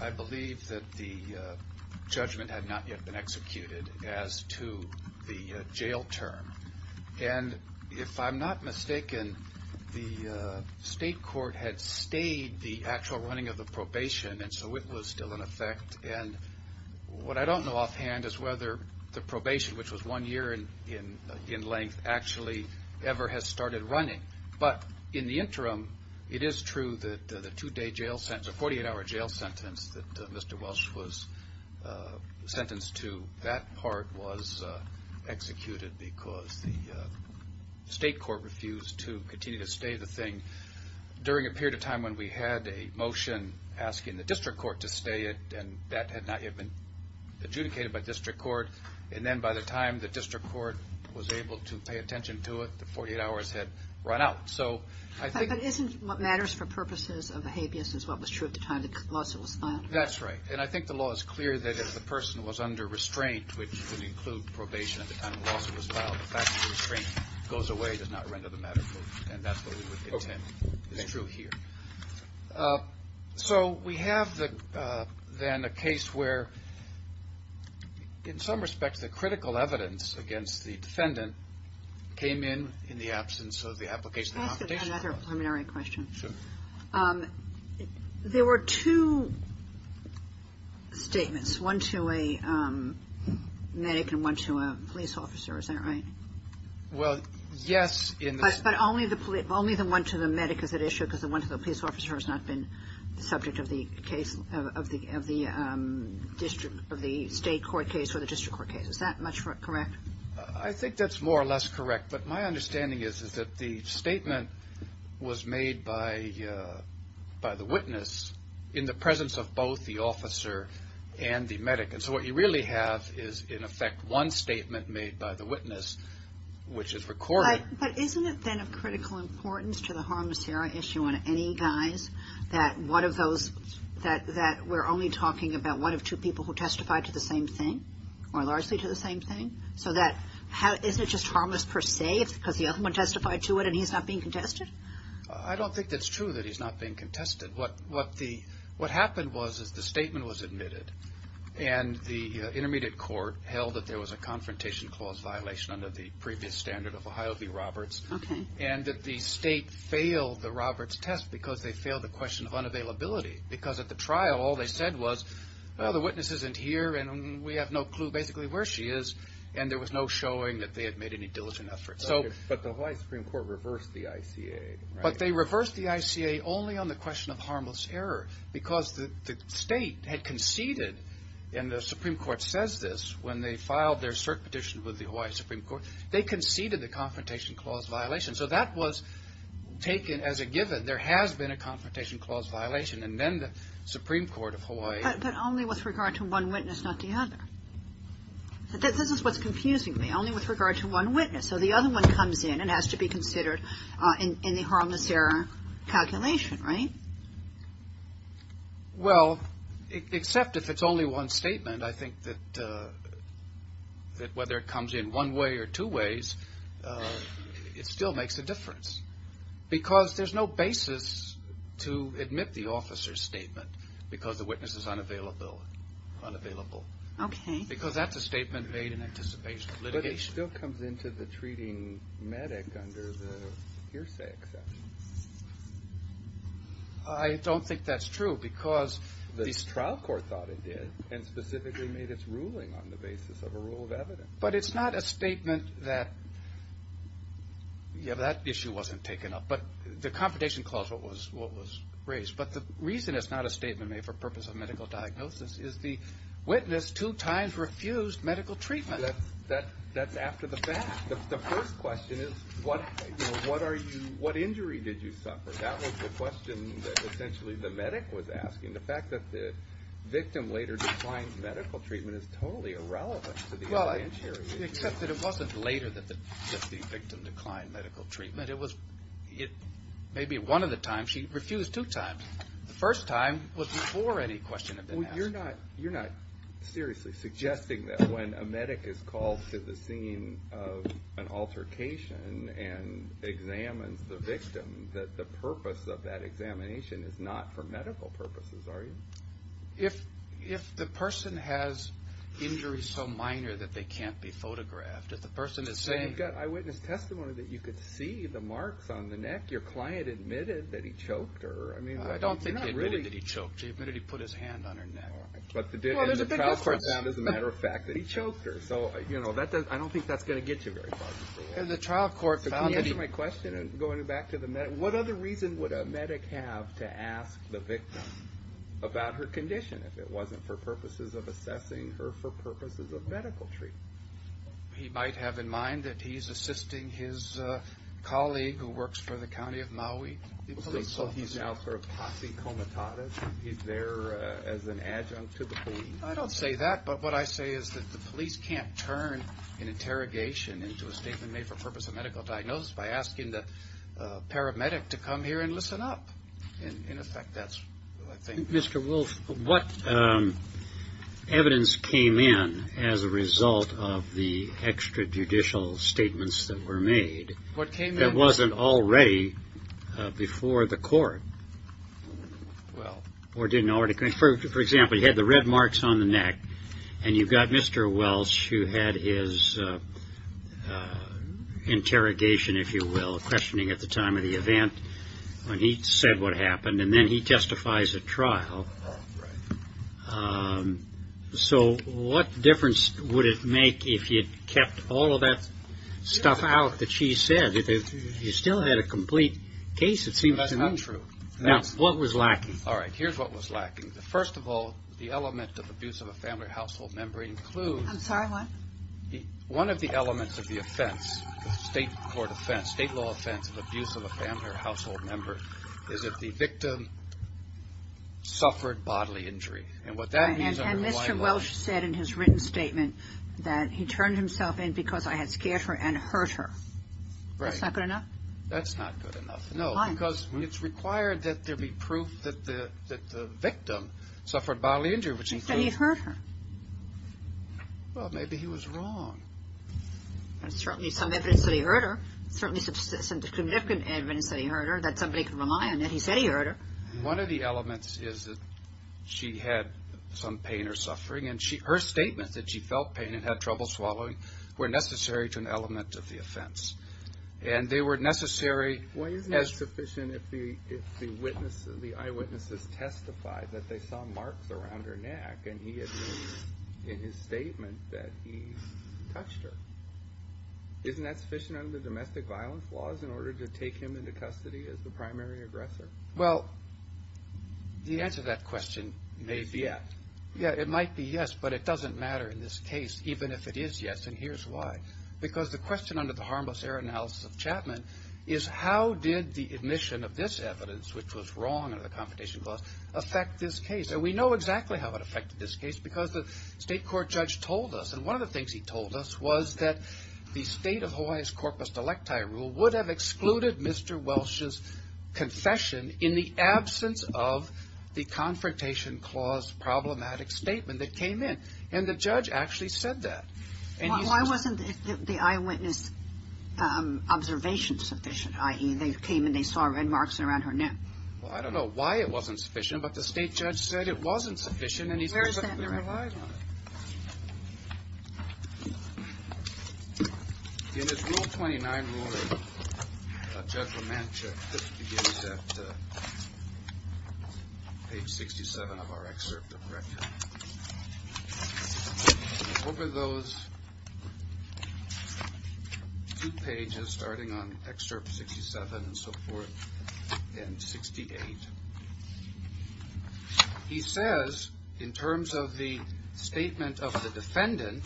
I believe that the judgment had not yet been executed as to the jail term. And if I'm not mistaken, the state court had stayed the actual running of the probation and so it was still in effect. And what I don't know offhand is whether the probation, which was one year in length, actually ever has started running. But in the interim, it is true that the two-day jail sentence, the 48-hour jail sentence that state court refused to continue to stay the thing during a period of time when we had a motion asking the district court to stay it, and that had not yet been adjudicated by district court. And then by the time the district court was able to pay attention to it, the 48 hours had run out. So I think... But isn't what matters for purposes of a habeas is what was true at the time the lawsuit was filed? That's right. And I think the law is clear that if the person was under restraint, which would include probation at the time the lawsuit was filed, the fact that the restraint goes away does not render the matter true. And that's what we would contend is true here. So we have then a case where, in some respects, the critical evidence against the defendant came in in the absence of the application... I have another preliminary question. Sure. There were two statements, one to a medic and one to a police officer. Is that right? Well, yes. But only the one to the medic is at issue because the one to the police officer has not been the subject of the case of the district, of the state court case or the district court case. Is that much correct? I think that's more or less correct. But my understanding is that the statement was made by the witness in the presence of both the officer and the medic. And so what you really have is, in effect, one statement made by the witness, which is recorded. But isn't it then of critical importance to the harmless error issue on any guise that one of those... that we're only talking about one of two people who testified to the same thing, or largely to the same thing? So isn't it just harmless per se because the other one testified to it and he's not being contested? I don't think that's true that he's not being contested. What happened was the statement was admitted and the intermediate court held that there was a confrontation clause violation under the previous standard of Ohio v. Roberts and that the state failed the Roberts test because they failed the question of unavailability. Because at the trial all they said was, the witness isn't here and we have no clue basically where she is and there was no showing that they had made any diligent efforts. But the Hawaii Supreme Court reversed the ICA, right? But they reversed the ICA only on the question of harmless error because the state had conceded, and the Supreme Court says this when they filed their cert petition with the Hawaii Supreme Court, they conceded the confrontation clause violation. So that was taken as a given. There has been a confrontation clause violation, and then the Supreme Court of Hawaii. But only with regard to one witness, not the other. This is what's confusing me, only with regard to one witness. So the other one comes in and has to be considered in the harmless error calculation, right? Well, except if it's only one statement, I think that whether it comes in one way or two ways, it still makes a difference. Because there's no basis to admit the officer's statement because the witness is unavailable. Because that's a statement made in anticipation of litigation. But it still comes into the treating medic under the hearsay exception. I don't think that's true because... The trial court thought it did, and specifically made its ruling on the basis of a rule of evidence. But it's not a statement that, yeah, that issue wasn't taken up. But the confrontation clause was raised. But the reason it's not a statement made for purpose of medical diagnosis is the witness two times refused medical treatment. That's after the fact. The first question is what are you, what injury did you suffer? That was the question that essentially the medic was asking. The fact that the victim later declined medical treatment is totally irrelevant to the evidence here. Well, except that it wasn't later that the victim declined medical treatment. It was maybe one of the times she refused two times. The first time was before any question had been asked. Well, you're not seriously suggesting that when a medic is called to the scene of an altercation and examines the victim that the purpose of that examination is not for medical purposes, are you? If the person has injuries so minor that they can't be photographed, if the person is saying... You've got eyewitness testimony that you could see the marks on the neck. Your client admitted that he choked her. I don't think he admitted that he choked her. He admitted he put his hand on her neck. But the trial court found, as a matter of fact, that he choked her. So, you know, I don't think that's going to get you very far. And the trial court found that he... Can you answer my question going back to the medic? What other reason would a medic have to ask the victim about her condition if it wasn't for purposes of assessing her for purposes of medical treatment? He might have in mind that he's assisting his colleague who works for the county of Maui, the police officer. So he's now for a posse comitatus? He's there as an adjunct to the police? I don't say that. But what I say is that the police can't turn an interrogation into a statement made for purpose of medical diagnosis by asking the paramedic to come here and listen up. In effect, that's what I think... Mr. Wolf, what evidence came in as a result of the extrajudicial statements that were made... What came in? ...that wasn't already before the court? Well... For example, you had the red marks on the neck, and you've got Mr. Welch who had his interrogation, if you will, questioning at the time of the event when he said what happened, and then he testifies at trial. So what difference would it make if you'd kept all of that stuff out that she said? You still had a complete case, it seems to me. That's not true. Now, what was lacking? All right, here's what was lacking. First of all, the element of abuse of a family or household member includes... I'm sorry, what? One of the elements of the offense, the state court offense, state law offense of abuse of a family or household member, is that the victim suffered bodily injury. And what that means... And Mr. Welch said in his written statement that he turned himself in because I had scared her and hurt her. Right. That's not good enough? That's not good enough, no. Why? Because it's required that there be proof that the victim suffered bodily injury, which includes... He said he hurt her. Well, maybe he was wrong. There's certainly some evidence that he hurt her, certainly some significant evidence that he hurt her that somebody could rely on that he said he hurt her. One of the elements is that she had some pain or suffering, and her statements that she felt pain and had trouble swallowing were necessary to an element of the offense. And they were necessary as... Even if the eyewitnesses testified that they saw marks around her neck and he admitted in his statement that he touched her, isn't that sufficient under domestic violence laws in order to take him into custody as the primary aggressor? Well, the answer to that question may be yes. Yeah, it might be yes, but it doesn't matter in this case, even if it is yes, and here's why. Because the question under the harmless error analysis of Chapman is how did the admission of this evidence, which was wrong under the Confrontation Clause, affect this case? And we know exactly how it affected this case because the state court judge told us, and one of the things he told us was that the State of Hawaii's Corpus Delecti Rule would have excluded Mr. Welsh's confession in the absence of the Confrontation Clause problematic statement that came in, and the judge actually said that. Why wasn't the eyewitness observation sufficient, i.e., they came and they saw red marks around her neck? Well, I don't know why it wasn't sufficient, but the state judge said it wasn't sufficient and he said... Where is that in the record? In his Rule 29 Rule of Judgment, which begins at page 67 of our excerpt, over those two pages, starting on excerpt 67 and so forth, and 68, he says, in terms of the statement of the defendant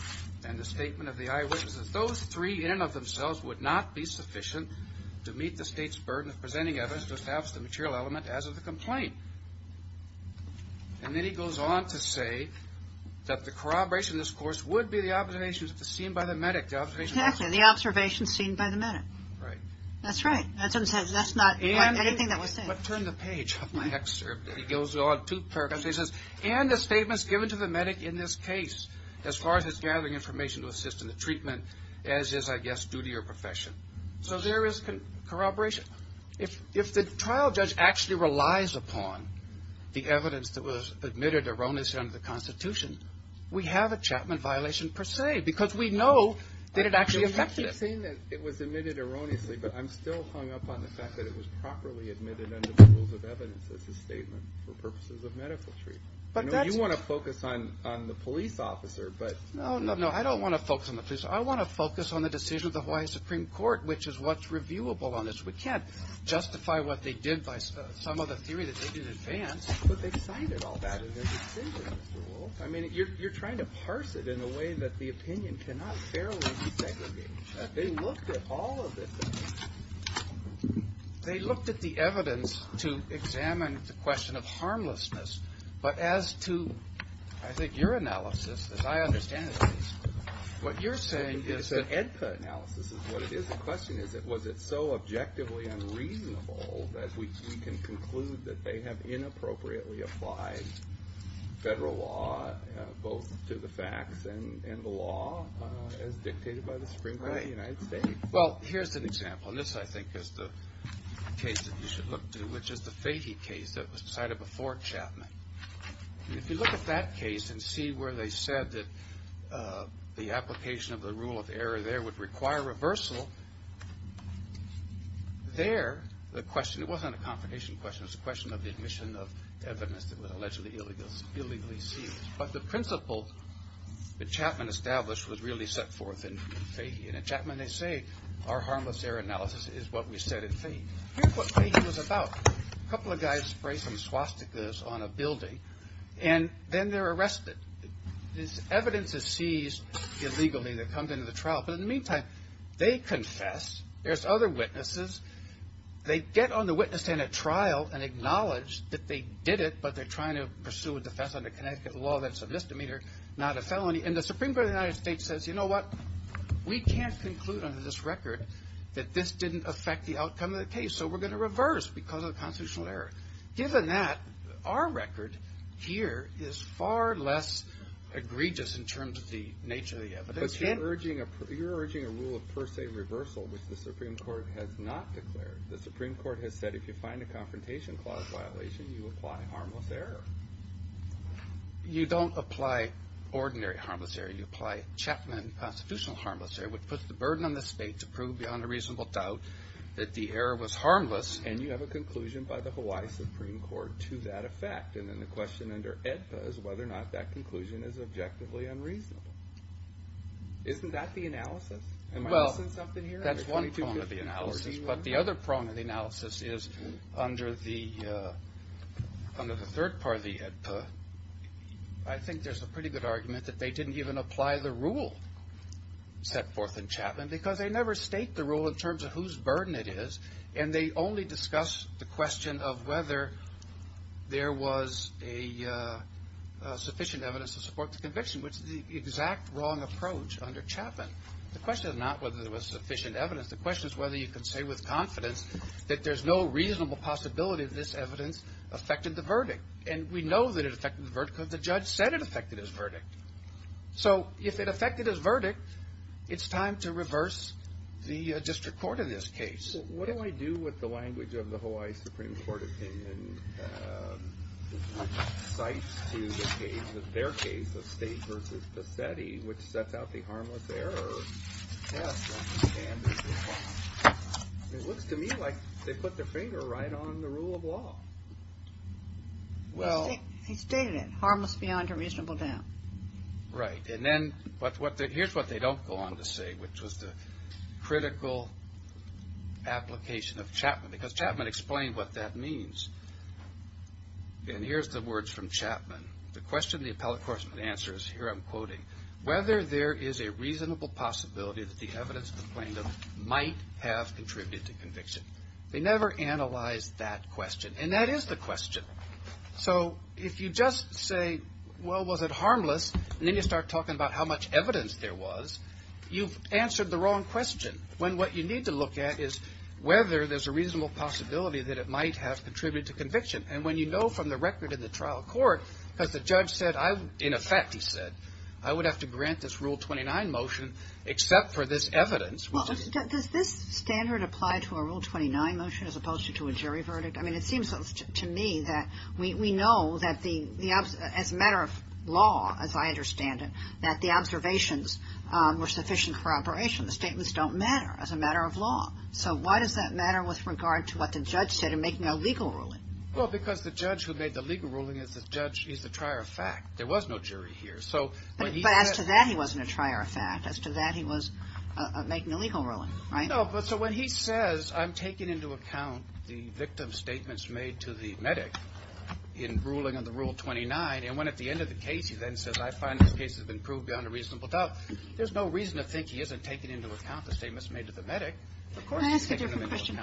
and the statement of the eyewitness, that those three in and of themselves would not be sufficient to meet the state's burden of presenting evidence to establish the material element as of the complaint. And then he goes on to say that the corroboration of this course would be the observation seen by the medic. Exactly, the observation seen by the medic. Right. That's right. That's not anything that was said. But turn the page of my excerpt. He goes on two paragraphs. He says, and the statements given to the medic in this case, as far as his gathering information to assist in the treatment, as is, I guess, due to your profession. So there is corroboration. If the trial judge actually relies upon the evidence that was admitted erroneously under the Constitution, we have a Chapman violation, per se, because we know that it actually affected it. You keep saying that it was admitted erroneously, but I'm still hung up on the fact that it was properly admitted under the rules of evidence as a statement for purposes of medical treatment. I know you want to focus on the police officer, but. No, no, no, I don't want to focus on the police officer. I want to focus on the decision of the Hawaii Supreme Court, which is what's reviewable on this. We can't justify what they did by some of the theory that they did in advance. But they cited all that in their decision, Mr. Wolf. I mean, you're trying to parse it in a way that the opinion cannot fairly be segregated. They looked at all of it. They looked at the evidence to examine the question of harmlessness. But as to, I think, your analysis, as I understand it, what you're saying is that. It's an AEDPA analysis is what it is. The question is, was it so objectively unreasonable that we can conclude that they have inappropriately applied federal law, both to the facts and the law, as dictated by the Supreme Court of the United States? Well, here's an example, and this, I think, is the case that you should look to, which is the Fahey case that was decided before Chapman. If you look at that case and see where they said that the application of the rule of error there would require reversal, there, the question, it wasn't a confrontation question. It was a question of the admission of evidence that was allegedly illegally seized. But the principle that Chapman established was really set forth in Fahey. And in Chapman, they say, our harmless error analysis is what we said in Fahey. Here's what Fahey was about. A couple of guys spray some swastikas on a building, and then they're arrested. This evidence is seized illegally that comes into the trial. But in the meantime, they confess. There's other witnesses. They get on the witness stand at trial and acknowledge that they did it, but they're trying to pursue a defense under Connecticut law that's a misdemeanor, not a felony. And the Supreme Court of the United States says, you know what? We can't conclude under this record that this didn't affect the outcome of the case, so we're going to reverse because of the constitutional error. Given that, our record here is far less egregious in terms of the nature of the evidence. But you're urging a rule of per se reversal, which the Supreme Court has not declared. The Supreme Court has said if you find a confrontation clause violation, you apply harmless error. You don't apply ordinary harmless error. You apply Chapman constitutional harmless error, which puts the burden on the state to prove beyond a reasonable doubt that the error was harmless, and you have a conclusion by the Hawaii Supreme Court to that effect. And then the question under AEDPA is whether or not that conclusion is objectively unreasonable. Isn't that the analysis? Am I missing something here? Well, that's one prong of the analysis. But the other prong of the analysis is under the third part of the AEDPA, I think there's a pretty good argument that they didn't even apply the rule set forth in Chapman because they never state the rule in terms of whose burden it is, and they only discuss the question of whether there was sufficient evidence to support the conviction, which is the exact wrong approach under Chapman. The question is not whether there was sufficient evidence. The question is whether you can say with confidence that there's no reasonable possibility that this evidence affected the verdict. And we know that it affected the verdict because the judge said it affected his verdict. So if it affected his verdict, it's time to reverse the district court in this case. So what do I do with the language of the Hawaii Supreme Court opinion? Cites to the case, their case, the state versus Pasetti, which sets out the harmless error test. It looks to me like they put their finger right on the rule of law. He stated it, harmless beyond a reasonable doubt. Right. And then here's what they don't go on to say, which was the critical application of Chapman, because Chapman explained what that means. And here's the words from Chapman. Whether there is a reasonable possibility that the evidence might have contributed to conviction. They never analyzed that question. And that is the question. So if you just say, well, was it harmless? And then you start talking about how much evidence there was, you've answered the wrong question. When what you need to look at is whether there's a reasonable possibility that it might have contributed to conviction. And when you know from the record in the trial court, because the judge said, in effect, he said, I would have to grant this Rule 29 motion except for this evidence. Well, does this standard apply to a Rule 29 motion as opposed to a jury verdict? I mean, it seems to me that we know that as a matter of law, as I understand it, that the observations were sufficient corroboration. The statements don't matter as a matter of law. So why does that matter with regard to what the judge said in making a legal ruling? Well, because the judge who made the legal ruling is the trier of fact. There was no jury here. But as to that, he wasn't a trier of fact. As to that, he was making a legal ruling, right? No, but so when he says, I'm taking into account the victim's statements made to the medic in ruling on the Rule 29, and when at the end of the case he then says, I find this case has been proved beyond a reasonable doubt, there's no reason to think he isn't taking into account the statements made to the medic. Can I ask a different question?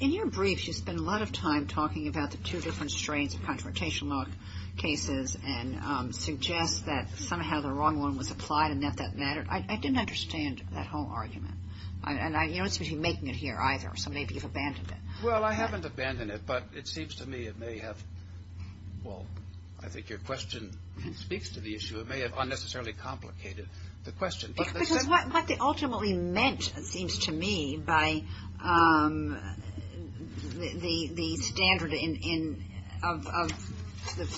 In your briefs, you spend a lot of time talking about the two different strains of confrontational cases and suggest that somehow the wrong one was applied and that that mattered. I didn't understand that whole argument. And you don't seem to be making it here either, so maybe you've abandoned it. Well, I haven't abandoned it, but it seems to me it may have, well, I think your question speaks to the issue. It may have unnecessarily complicated the question. Because what they ultimately meant, it seems to me, by the standard of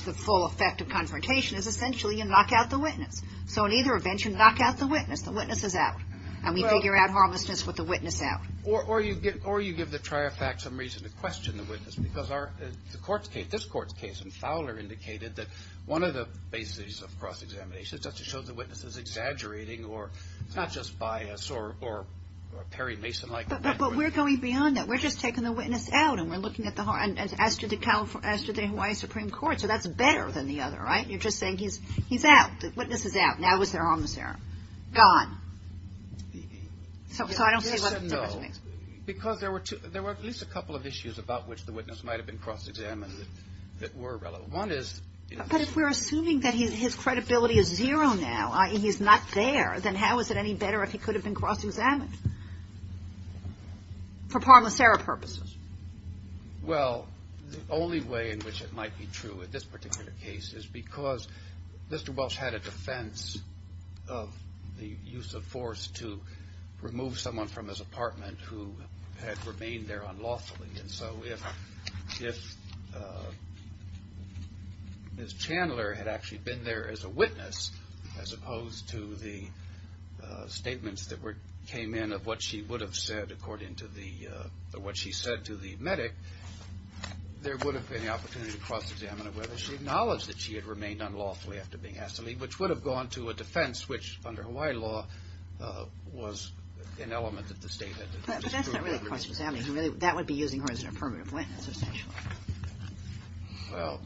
the full effect of confrontation, is essentially you knock out the witness. So in either event, you knock out the witness. The witness is out. And we figure out harmlessness with the witness out. Or you give the trier of fact some reason to question the witness. Because the court's case, this court's case, and Fowler indicated that one of the bases of cross-examination is just to show the witness is exaggerating or it's not just bias or Perry Mason-like. But we're going beyond that. We're just taking the witness out, and we're looking at the, as to the Hawaii Supreme Court. So that's better than the other, right? You're just saying he's out. The witness is out. Now is there harmless error. Gone. So I don't see what the difference is. Because there were at least a couple of issues about which the witness might have been cross-examined that were relevant. One is. But if we're assuming that his credibility is zero now, he's not there, then how is it any better if he could have been cross-examined? For harmless error purposes. Well, the only way in which it might be true in this particular case is because Mr. Welsh had a defense of the use of force to remove someone from his apartment who had remained there unlawfully. And so if Ms. Chandler had actually been there as a witness, as opposed to the statements that came in of what she would have said, according to what she said to the medic, there would have been the opportunity to cross-examine whether she acknowledged that she had remained unlawfully after being asked to leave, which would have gone to a defense which, under Hawaii law, was an element of the statement. But that's not really cross-examining. That would be using her as a permanent witness, essentially. Well,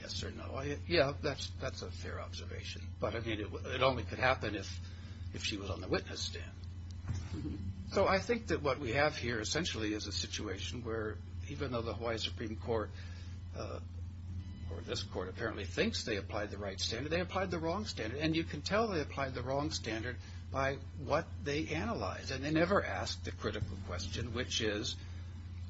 yes or no. Yeah, that's a fair observation. But it only could happen if she was on the witness stand. So I think that what we have here essentially is a situation where even though the Hawaii Supreme Court or this court apparently thinks they applied the right standard, they applied the wrong standard. And you can tell they applied the wrong standard by what they analyzed. And they never asked the critical question, which is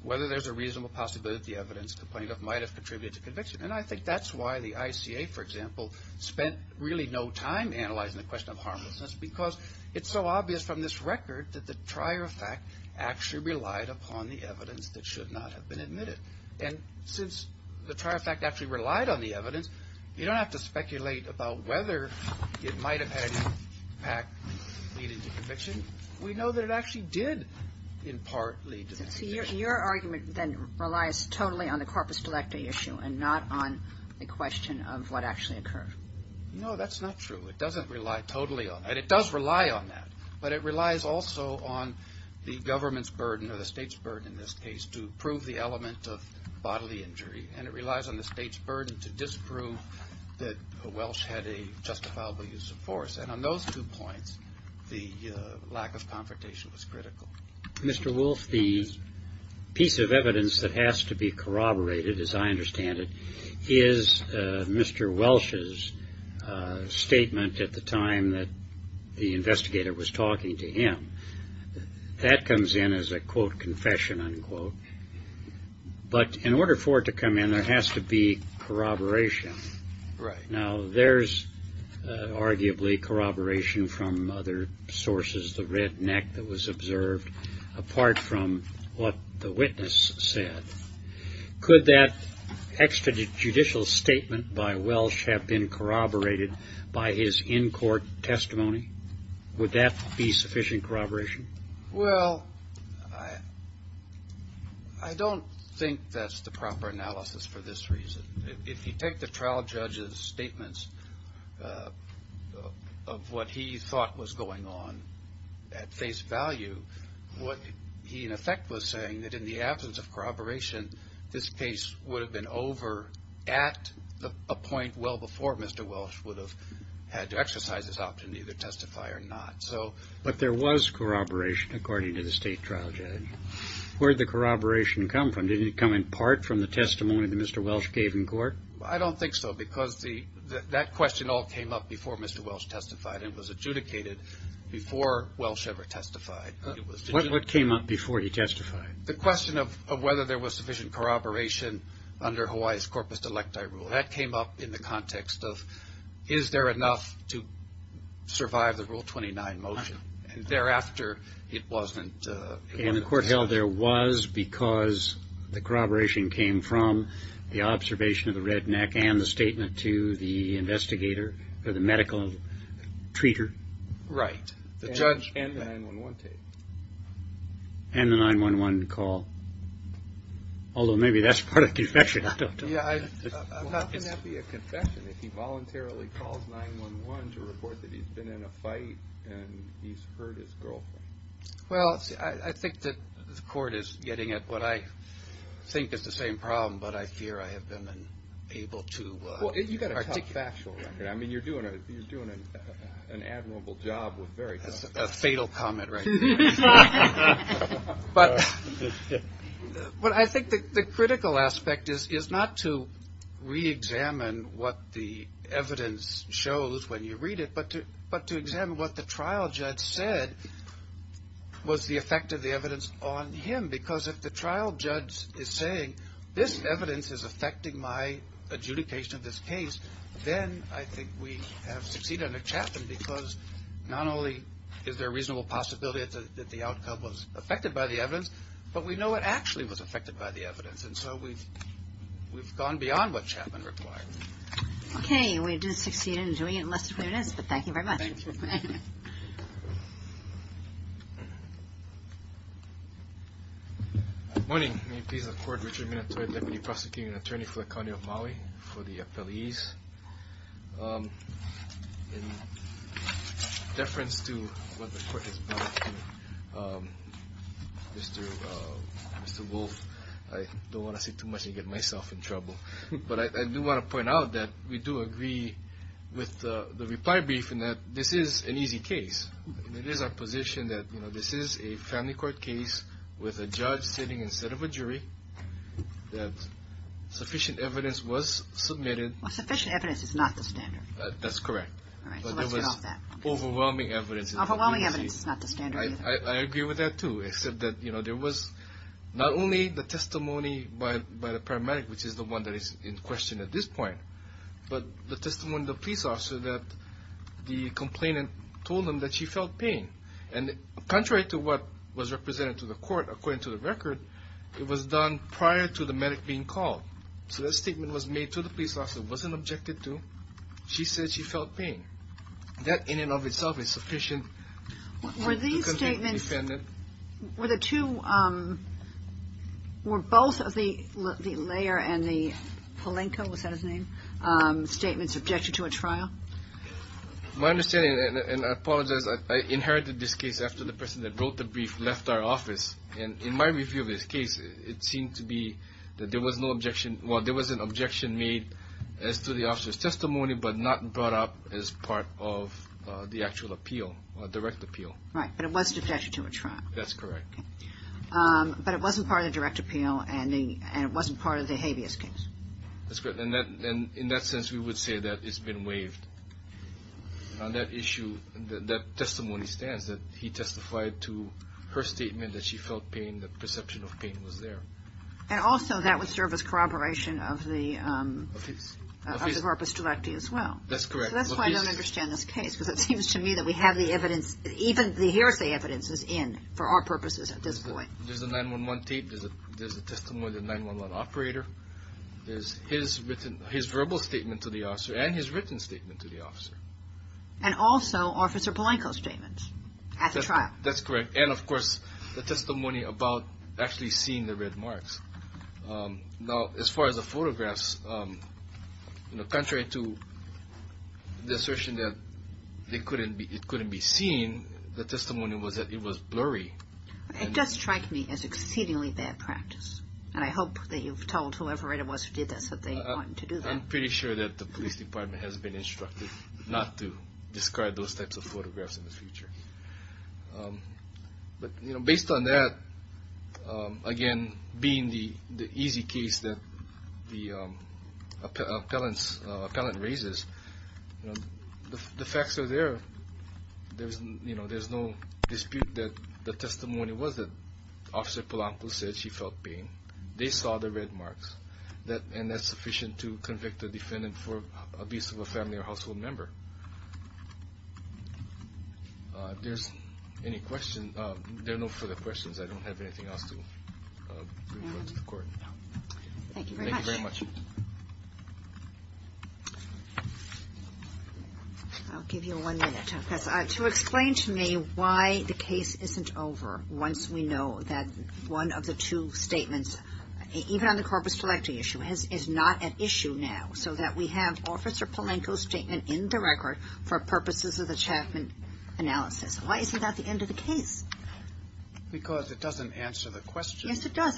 whether there's a reasonable possibility that the evidence complained of might have contributed to conviction. And I think that's why the ICA, for example, spent really no time analyzing the question of harmlessness, because it's so obvious from this record that the prior fact actually relied upon the evidence that should not have been admitted. And since the prior fact actually relied on the evidence, you don't have to speculate about whether it might have had any impact leading to conviction. We know that it actually did in part lead to conviction. So your argument then relies totally on the corpus delecta issue and not on the question of what actually occurred. No, that's not true. It doesn't rely totally on that. It does rely on that. But it relies also on the government's burden or the state's burden in this case to prove the element of bodily injury. And it relies on the state's burden to disprove that Welsh had a justifiable use of force. And on those two points, the lack of confrontation was critical. Mr. Wolf, the piece of evidence that has to be corroborated, as I understand it, is Mr. Welsh's statement at the time that the investigator was talking to him. That comes in as a, quote, confession, unquote. But in order for it to come in, there has to be corroboration. Right. Now, there's arguably corroboration from other sources, the redneck that was observed, apart from what the witness said. Could that extrajudicial statement by Welsh have been corroborated by his in-court testimony? Would that be sufficient corroboration? Well, I don't think that's the proper analysis for this reason. If you take the trial judge's statements of what he thought was going on at face value, what he, in effect, was saying that in the absence of corroboration, this case would have been over at a point well before Mr. Welsh would have had to exercise his option to either testify or not. But there was corroboration, according to the state trial judge. Where did the corroboration come from? Did it come in part from the testimony that Mr. Welsh gave in court? I don't think so, because that question all came up before Mr. Welsh testified and was adjudicated before Welsh ever testified. What came up before he testified? The question of whether there was sufficient corroboration under Hawaii's corpus delecti rule. That came up in the context of, is there enough to survive the Rule 29 motion? And thereafter, it wasn't. And the court held there was because the corroboration came from the observation of the redneck and the statement to the investigator, or the medical treater. Right. The judge and the 911 tape. And the 911 call. Although maybe that's part of confession. I don't know. Yeah, I'm not going to have to be a confession if he voluntarily calls 911 to report that he's been in a fight and he's hurt his girlfriend. Well, I think that the court is getting at what I think is the same problem, but I fear I have been unable to articulate it. Well, you've got a tough factual record. I mean, you're doing an admirable job with very tough facts. That's a fatal comment right there. But I think the critical aspect is not to reexamine what the evidence shows when you read it, but to examine what the trial judge said was the effect of the evidence on him. Because if the trial judge is saying this evidence is affecting my adjudication of this case, then I think we have succeeded under Chapman because not only is there a reasonable possibility that the outcome was affected by the evidence, but we know it actually was affected by the evidence. And so we've gone beyond what Chapman required. Okay. We did succeed in doing it, and that's the way it is. But thank you very much. Thank you. Good morning. May it please the Court, Richard Minatoi, Deputy Prosecuting Attorney for the County of Maui, for the appellees. In deference to what the Court has brought to Mr. Wolf, I don't want to say too much and get myself in trouble. But I do want to point out that we do agree with the reply briefing that this is an easy case. It is our position that this is a family court case with a judge sitting instead of a jury, that sufficient evidence was submitted. Well, sufficient evidence is not the standard. That's correct. All right, so let's get off that. But there was overwhelming evidence. Overwhelming evidence is not the standard either. I agree with that, too, except that there was not only the testimony by the paramedic, which is the one that is in question at this point, but the testimony of the police officer that the complainant told him that she felt pain. And contrary to what was represented to the Court according to the record, it was done prior to the medic being called. So that statement was made to the police officer, wasn't objected to. She said she felt pain. That in and of itself is sufficient. Were these statements, were the two, were both of the Lair and the Polenko, was that his name, statements objected to at trial? My understanding, and I apologize, I inherited this case after the person that wrote the brief left our office. And in my review of this case, it seemed to be that there was no objection. Well, there was an objection made as to the officer's testimony, but not brought up as part of the actual appeal, direct appeal. Right, but it wasn't objected to at trial. That's correct. But it wasn't part of the direct appeal, and it wasn't part of the habeas case. That's correct. And in that sense, we would say that it's been waived. On that issue, that testimony stands, that he testified to her statement that she felt pain, the perception of pain was there. And also, that would serve as corroboration of the corpus directi as well. That's correct. So that's why I don't understand this case, because it seems to me that we have the evidence, even the hearsay evidence is in for our purposes at this point. There's a 9-1-1 tape. There's a testimony of the 9-1-1 operator. There's his verbal statement to the officer and his written statement to the officer. And also Officer Polenko's statement at the trial. That's correct. And, of course, the testimony about actually seeing the red marks. Now, as far as the photographs, contrary to the assertion that it couldn't be seen, the testimony was that it was blurry. It does strike me as exceedingly bad practice, and I hope that you've told whoever it was who did this that they wanted to do that. I'm pretty sure that the police department has been instructed not to discard those types of photographs in the future. But based on that, again, being the easy case that the appellant raises, the facts are there. There's no dispute that the testimony was that Officer Polenko said she felt pain. They saw the red marks, and that's sufficient to convict a defendant for abuse of a family or household member. If there's any questions, there are no further questions. I don't have anything else to refer to the court. Thank you very much. Thank you very much. I'll give you one minute to explain to me why the case isn't over once we know that one of the two statements, even on the corpus collective issue, is not at issue now, so that we have Officer Polenko's statement in the record for purposes of the Chapman analysis. Why isn't that the end of the case? Because it doesn't answer the question. Yes, it does.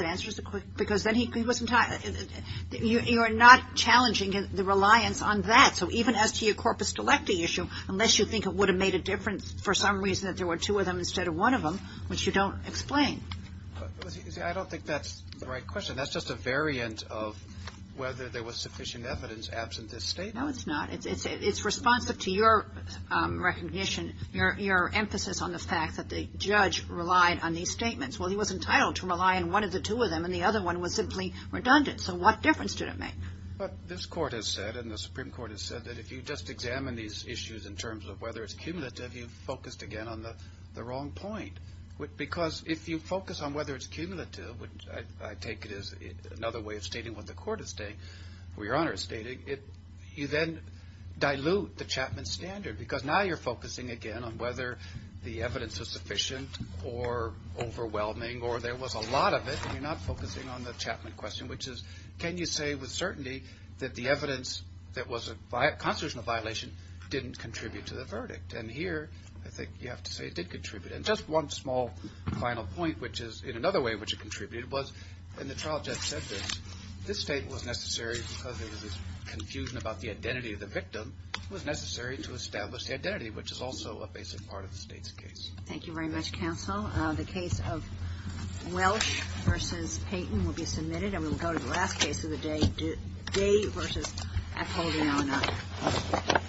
You're not challenging the reliance on that. So even as to your corpus collective issue, unless you think it would have made a difference for some reason that there were two of them instead of one of them, which you don't explain. I don't think that's the right question. That's just a variant of whether there was sufficient evidence absent this statement. No, it's not. It's responsive to your recognition, your emphasis on the fact that the judge relied on these statements. Well, he was entitled to rely on one of the two of them, and the other one was simply redundant. So what difference did it make? This Court has said, and the Supreme Court has said, that if you just examine these issues in terms of whether it's cumulative, you've focused again on the wrong point. Because if you focus on whether it's cumulative, which I take it is another way of stating what the Court is stating, or Your Honor is stating, you then dilute the Chapman standard, because now you're focusing again on whether the evidence was sufficient or overwhelming, or there was a lot of it, and you're not focusing on the Chapman question, which is can you say with certainty that the evidence that was a constitutional violation didn't contribute to the verdict? And here I think you have to say it did contribute. And just one small final point, which is in another way in which it contributed, was when the trial judge said this, this statement was necessary because there was this confusion about the identity of the victim. It was necessary to establish the identity, which is also a basic part of the State's case. Thank you very much, Counsel. The case of Welch v. Payton will be submitted. And we'll go to the last case of the day, Day v. Acolde, Illinois. Thank you.